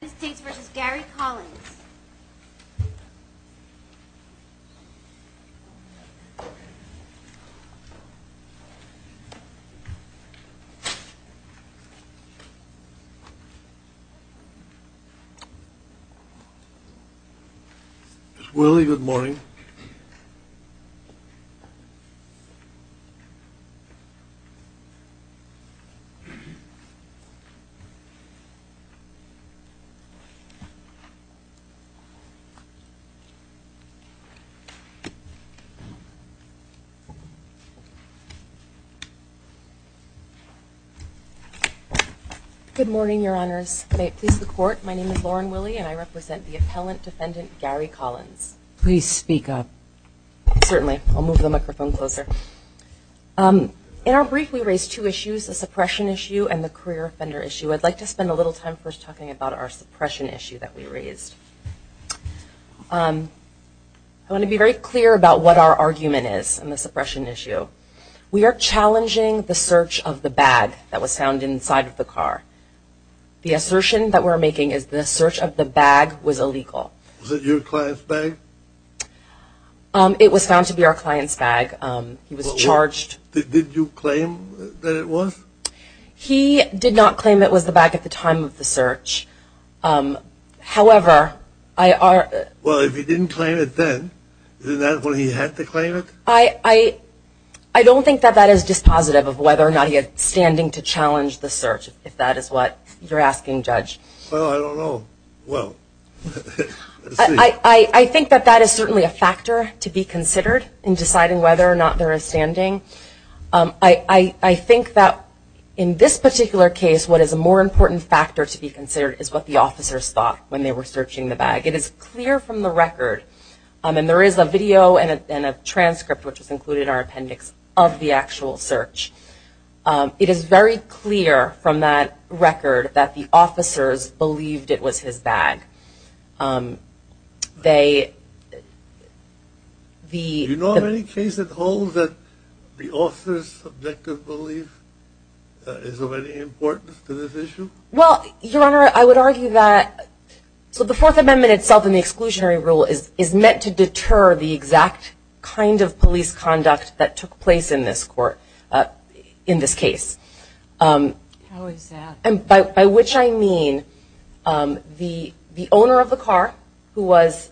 United States v. Gary Collins Ms. Willie, good morning. Good morning, Your Honors. May it please the Court, my name is Lauren Willie, and I represent the appellant defendant Gary Collins. Please speak up. Certainly. I'll move the microphone closer. In our brief, we raised two issues, the suppression issue and the career offender issue. I'd like to spend a little time first talking about our suppression issue that we raised. I want to be very clear about what our argument is on the suppression issue. We are challenging the search of the bag that was found inside of the car. The assertion that we're making is the search of the bag was illegal. Was it your client's bag? It was found to be our client's bag. He was charged. Did you claim that it was? He did not claim it was the bag at the time of the search. However, I are... Well, if he didn't claim it then, isn't that when he had to claim it? I don't think that that is dispositive of whether or not he had standing to challenge the search, if that is what you're asking, Judge. Well, I don't know. Well, let's see. I think that that is certainly a factor to be considered in deciding whether or not there is standing. I think that in this particular case, what is a more important factor to be considered is what the officers thought when they were searching the bag. It is clear from the record, and there is a video and a transcript which is included in our appendix of the actual search. It is very clear from that record that the officers believed it was his bag. They... Do you know of any case at all that the officers' subjective belief is of any importance to this issue? Well, Your Honor, I would argue that... So the Fourth Amendment itself in the exclusionary rule is meant to deter the exact kind of police conduct that took place in this court, in this case. How is that? By which I mean, the owner of the car who was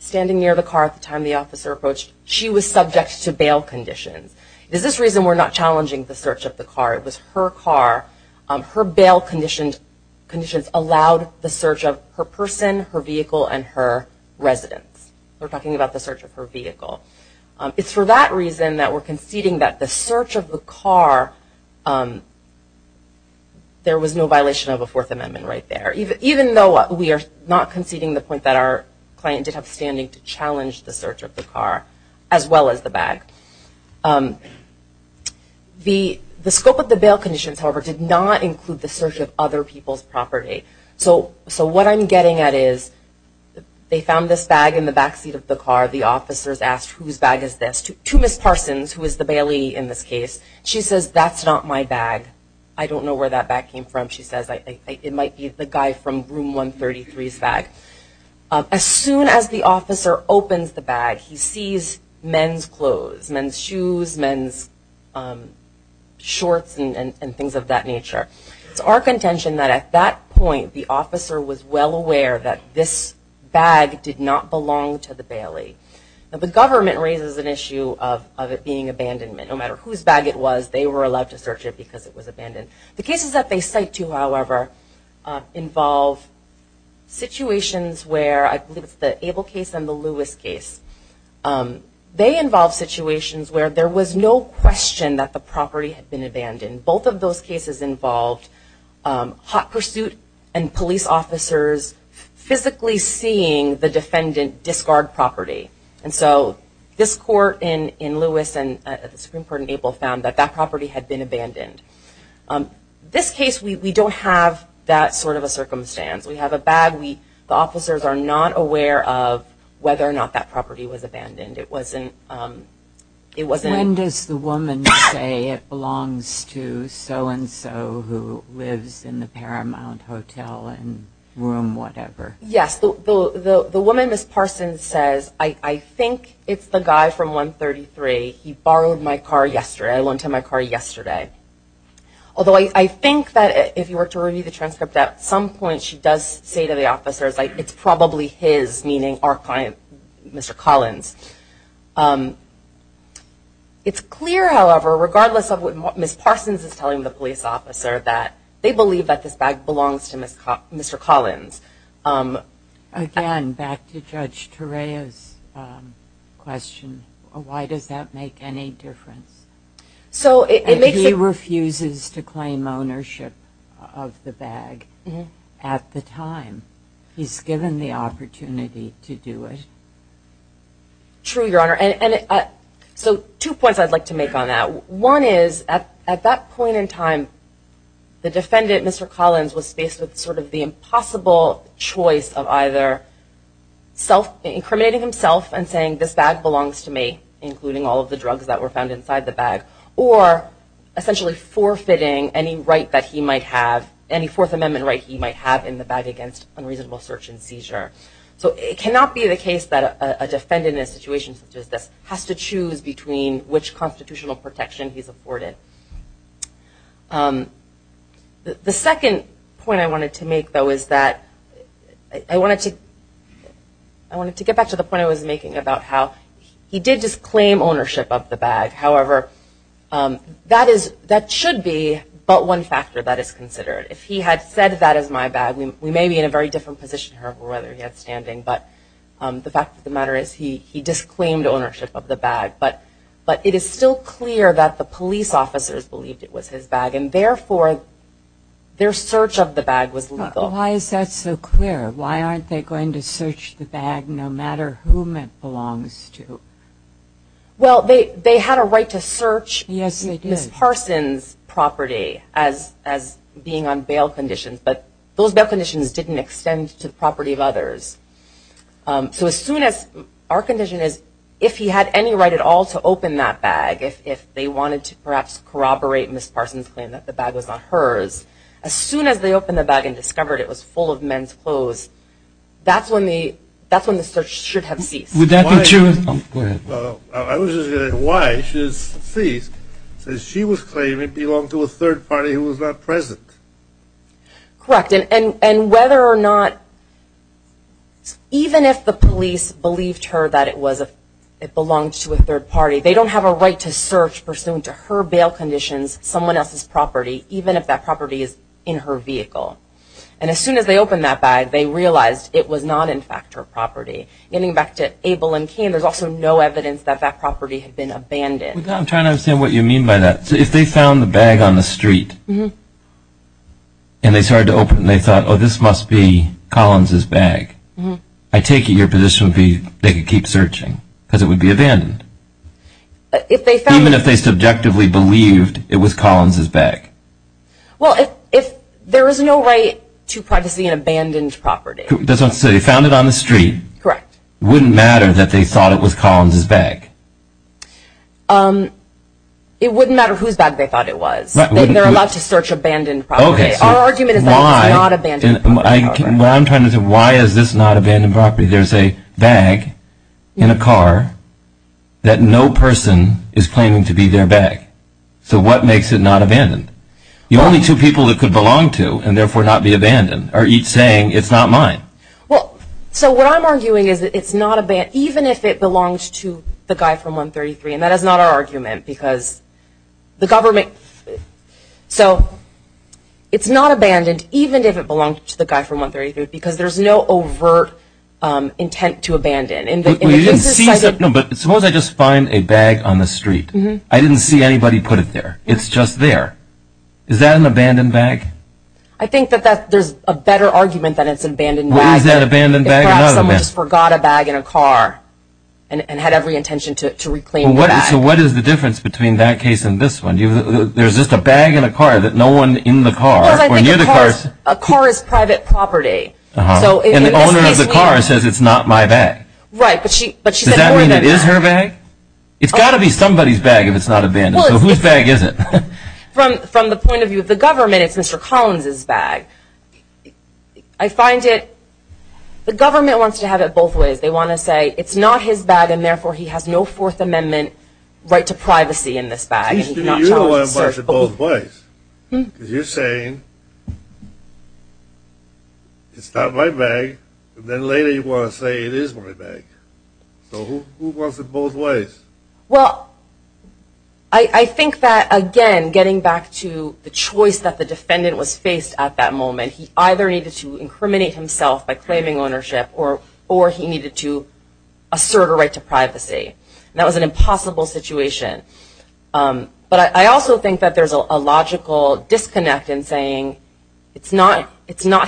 standing near the car at the time the officer approached, she was subject to bail conditions. It is this reason we are not challenging the search of the car. It was her car. Her bail conditions allowed the search of her person, her vehicle, and her residence. We are talking about the search of her vehicle. It is for that reason that we are conceding that the search of the car, there was no violation of the Fourth Amendment right there. Even though we are not conceding the point that our client did have standing to challenge the search of the car, as well as the bag. The scope of the bail conditions, however, did not include the search of other people's property. So what I'm getting at is, they found this bag in the backseat of the car. The officers asked, whose bag is this? To Ms. Parsons, who is the bailee in this case. She says, that's not my bag. I don't know where that bag came from, she says. It might be the guy from Room 133's bag. As soon as the officer opens the bag, he sees men's clothes, men's shoes, men's shorts, and things of that nature. It's our contention that at that point, the officer was well aware that this bag did not belong to the bailee. The government raises an issue of it being abandonment. No matter whose bag it was, they were allowed to search it because it was abandoned. The cases that they cite to, however, involve situations where, I believe it's the Abel case and the Lewis case. They involve situations where there was no question that the property had been abandoned. Both of those cases involved hot pursuit and police officers physically seeing the defendant discard property. And so, this court in Lewis and the Supreme Court in Abel found that that property had been abandoned. This case, we don't have that sort of a circumstance. We have a bag. The officers are not aware of whether or not that property was abandoned. It wasn't... When does the woman say it belongs to so and so who lives in the Paramount Hotel and Room whatever? Yes. The woman, Ms. Parsons, says, I think it's the guy from 133. He borrowed my car yesterday. I lent him my car yesterday. Although, I think that if you were to review the transcript at some point, she does say to the officers, it's probably his, meaning our client, Mr. Collins. It's clear, however, regardless of what Ms. Parsons is telling the police officer, they believe that this bag belongs to Mr. Collins. Again, back to Judge Torreo's question, why does that make any difference? So it makes... And he refuses to claim ownership of the bag at the time. He's given the opportunity to do it. True, Your Honor. So two points I'd like to make on that. One is, at that point in time, the defendant, Mr. Collins, was faced with sort of the impossible choice of either self-incriminating himself and saying, this bag belongs to me, including all of the drugs that were found inside the bag, or essentially forfeiting any right that he might have, any Fourth Amendment right he might have in the bag against unreasonable search and seizure. So it cannot be the case that a defendant in a situation such as this has to choose between which constitutional protection he's afforded. The second point I wanted to make, though, is that I wanted to get back to the point I was making about how he did disclaim ownership of the bag. However, that should be but one factor that is considered. If he had said, that is my bag, we may be in a very different position however whether he had standing, but the fact of the matter is he disclaimed ownership of the bag. But it is still clear that the police officers believed it was his bag, and therefore their search of the bag was legal. Why is that so clear? Why aren't they going to search the bag no matter whom it belongs to? Well they had a right to search Ms. Parsons' property as being on bail conditions, but those bail conditions didn't extend to the property of others. So as soon as, our condition is if he had any right at all to open that bag, if they wanted to perhaps corroborate Ms. Parsons' claim that the bag was not hers, as soon as they opened the bag and discovered it was full of men's clothes, that's when the search should have ceased. Why should it cease? Because she was claiming it belonged to a third party who was not present. Correct, and whether or not, even if the police believed her that it belonged to a third party, they don't have a right to search pursuant to her bail conditions someone else's property even if that property is in her vehicle. And as soon as they opened that bag, they realized it was not in fact her property. Getting back to Abel and Kane, there's also no evidence that that property had been abandoned. I'm trying to understand what you mean by that. So if they found the bag on the street, and they started to open it, and they thought, oh this must be Collins' bag, I take it your position would be they could keep searching, because it would be abandoned. Even if they subjectively believed it was Collins' bag. Well, if there is no right to privacy in an abandoned property. That's what I'm saying, if they found it on the street, it wouldn't matter that they thought it was Collins' bag. It wouldn't matter whose bag they thought it was. They're allowed to search abandoned property. Our argument is that it's not abandoned property. Why is this not abandoned property? There's a bag in a car that no person is claiming to be their bag. So what makes it not abandoned? The only two people it could belong to, and therefore not be abandoned, are each saying it's not mine. Well, so what I'm arguing is that it's not abandoned, even if it belongs to the guy from 133. And that is not our argument, because the government, so it's not abandoned even if it belonged to the guy from 133, because there's no overt intent to abandon. But suppose I just find a bag on the street. I didn't see anybody put it there. It's just there. Is that an abandoned bag? I think that there's a better argument that it's an abandoned bag. What is that abandoned bag? Perhaps someone just forgot a bag in a car and had every intention to reclaim the bag. So what is the difference between that case and this one? There's just a bag in a car that no one in the car or near the car... A car is private property, so in this case we... And the owner of the car says it's not my bag. Right, but she said more than that. Does that mean it is her bag? It's got to be somebody's bag if it's not abandoned. So whose bag is it? From the point of view of the government, it's Mr. Collins' bag. I find it... The government wants to have it both ways. They want to say it's not his bag and therefore he has no Fourth Amendment right to privacy in this bag. So you know it was in both ways. You're saying it's not my bag, and then later you want to say it is my bag. So who wants it both ways? Well, I think that again, getting back to the choice that the defendant was faced at that moment, he either needed to incriminate himself by claiming ownership or he needed to assert a right to privacy. That was an impossible situation. But I also think that there's a logical disconnect in saying it's not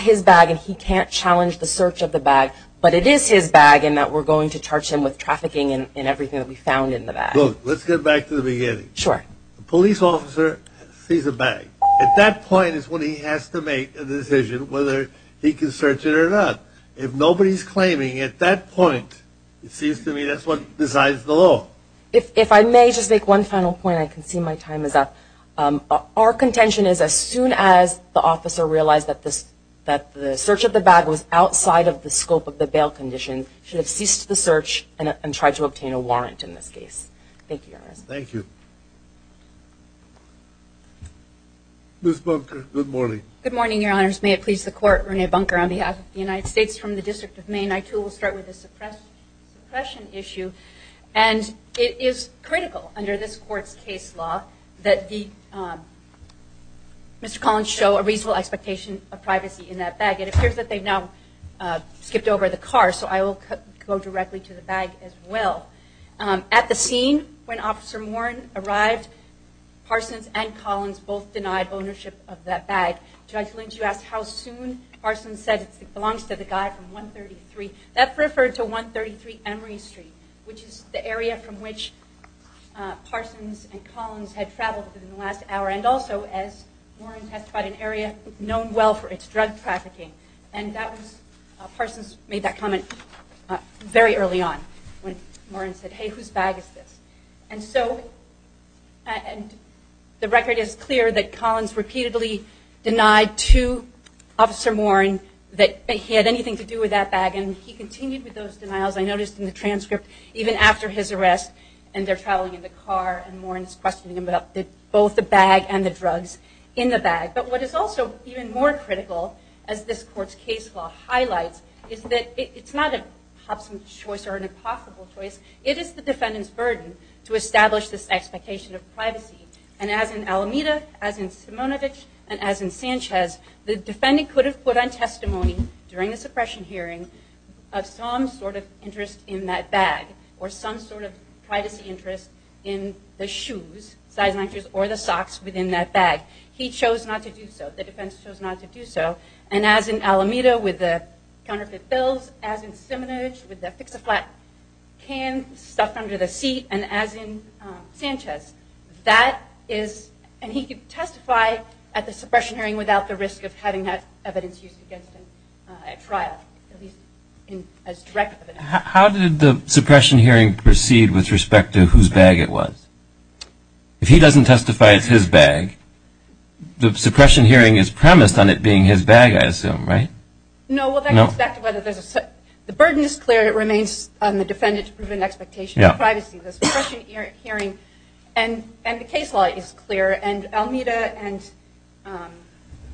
his bag and he can't challenge the search of the bag, but it is his bag and that we're going to charge him with trafficking and everything that we found in the bag. Look, let's get back to the beginning. Sure. Police officer sees a bag. At that point is when he has to make a decision whether he can search it or not. If nobody's claiming at that point, it seems to me that's what decides the law. If I may just make one final point, I can see my time is up. Our contention is as soon as the officer realized that the search of the bag was outside of the scope of the bail condition, he should have ceased the search and tried to obtain a warrant in this case. Thank you, Your Honor. Ms. Bunker, good morning. Good morning, Your Honors. May it please the Court, Rene Bunker on behalf of the United States from the District of Maine. I, too, will start with a suppression issue. And it is critical under this Court's case law that Mr. Collins show a reasonable expectation of privacy in that bag. It appears that they've now skipped over the car, so I will go directly to the bag as well. At the scene when Officer Morin arrived, Parsons and Collins both denied ownership of that bag. Judge Lynch, you asked how soon. Parsons said it belongs to the guy from 133. That referred to 133 Emory Street, which is the area from which Parsons and Collins had traveled within the last hour, and also as Morin testified, an area known well for its drug trafficking. Parsons made that comment very early on when Morin said, hey, whose bag is this? And so the record is clear that Collins repeatedly denied to Officer Morin that he had anything to do with that bag, and he continued with those denials, I noticed in the transcript, even after his arrest, and they're traveling in the car, and Morin is questioning about both the bag and the drugs in the bag. But what is also even more critical, as this Court's case law highlights, is that it's not a hops and choice or an impossible choice. It is the defendant's burden to establish this expectation of privacy. And as in Alameda, as in Simonovitch, and as in Sanchez, the defendant could have put on testimony during the suppression hearing of some sort of interest in that bag, or some sort of privacy interest in the shoes, or the socks within that bag. He chose not to do so. The defense chose not to do so. And as in Alameda with the counterfeit pills, as in Simonovitch with the fix-a-flat can stuffed under the seat, and as in Sanchez, that is, and he could testify at the suppression hearing without the risk of having that evidence used against him at trial, at least as direct evidence. How did the suppression hearing proceed with respect to whose bag it was? If he doesn't testify it's his bag, the suppression hearing is premised on it being his bag, I assume, right? No, well, that goes back to whether there's a, the burden is clear. It remains on the defendant to prove an expectation of privacy. The suppression hearing, and the case law is clear, and Alameda and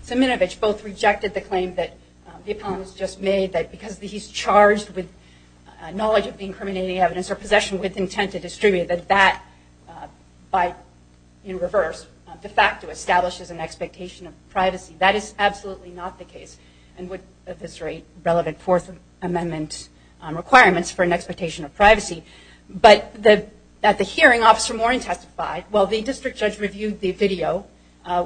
Simonovitch both rejected the claim that the opponent just made that because he's charged with knowledge of incriminating evidence or possession with intent to distribute, that that, by, in reverse, de facto establishes an expectation of privacy. That is absolutely not the case, and would eviscerate relevant Fourth Amendment requirements for an expectation of privacy. But the, at the hearing, Officer Morin testified, well, the district judge reviewed the video,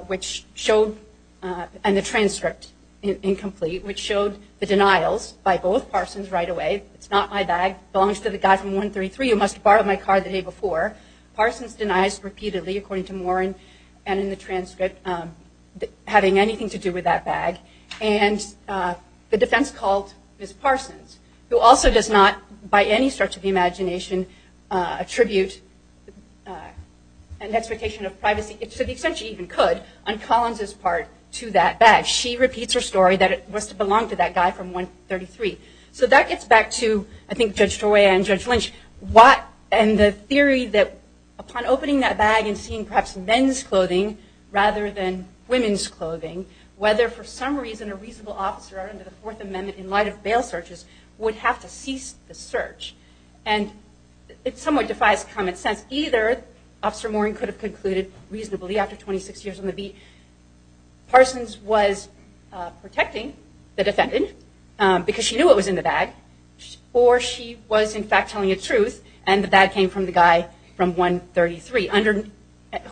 which showed, and the transcript, incomplete, which showed the denials by both Parsons right away. It's not my bag. It belongs to the guy from 133 who must have borrowed my car the day before. Parsons denies repeatedly, according to Morin, and in the transcript, having anything to do with that bag. And the defense called Ms. Parsons, who also does not, by any stretch of the imagination, attribute an expectation of privacy, to the extent she even could, on Collins' part, to that bag. She repeats her story that it must have belonged to that guy from 133. So that gets back to, I think, Judge Torway and Judge Lynch, what, and the theory that upon opening that bag and seeing, perhaps, men's clothing rather than women's clothing, whether, for some reason, a reasonable officer under the Fourth Amendment, in light of bail searches, would have to cease the search. And it somewhat defies common sense. Either Officer Morin could have concluded, reasonably, after 26 years on the beat, Parsons was protecting the defendant because she knew what was in the bag, or she was, in fact, telling the truth and the bag came from the guy from 133,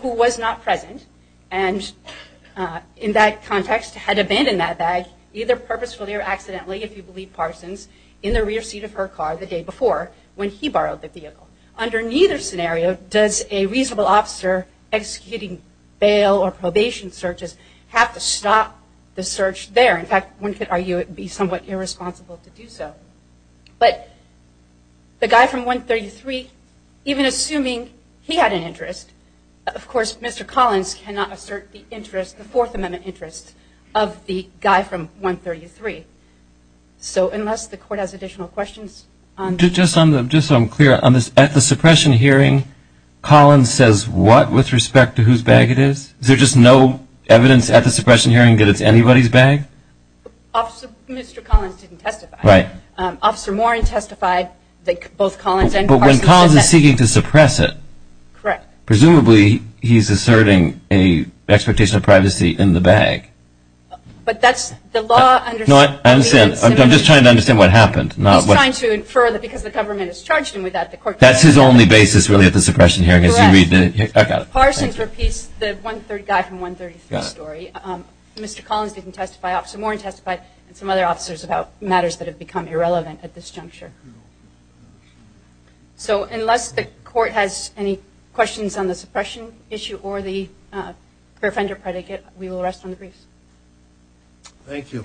who was not present and, in that context, had abandoned that bag, either purposefully or accidentally, if you believe Parsons, in the rear seat of her car the day before when he borrowed the vehicle. Under neither scenario does a reasonable officer executing bail or probation searches have to stop the search there. In fact, one could argue it would be somewhat irresponsible to do so. But the guy from 133, even assuming he had an interest, of course, Mr. Collins cannot assert the interest, the Fourth Amendment interest, of the guy from 133. So unless the Court has additional questions. Just so I'm clear, at the suppression hearing, Collins says what with respect to whose bag it is? Is there just no evidence at the suppression hearing that it's anybody's bag? Mr. Collins didn't testify. Officer Morin testified that both Collins and Parsons said that. But when Collins is seeking to suppress it, Correct. presumably he's asserting an expectation of privacy in the bag. But that's the law. No, I understand. I'm just trying to understand what happened. He's trying to infer that because the government has charged him with that, the Court can't. That's his only basis, really, at the suppression hearing. Correct. Parsons repeats the one-third guy from 133 story. Mr. Collins didn't testify. Officer Morin testified and some other officers about matters that have become irrelevant at this juncture. So unless the Court has any questions on the suppression issue or the fair offender predicate, we will rest on the briefs. Thank you.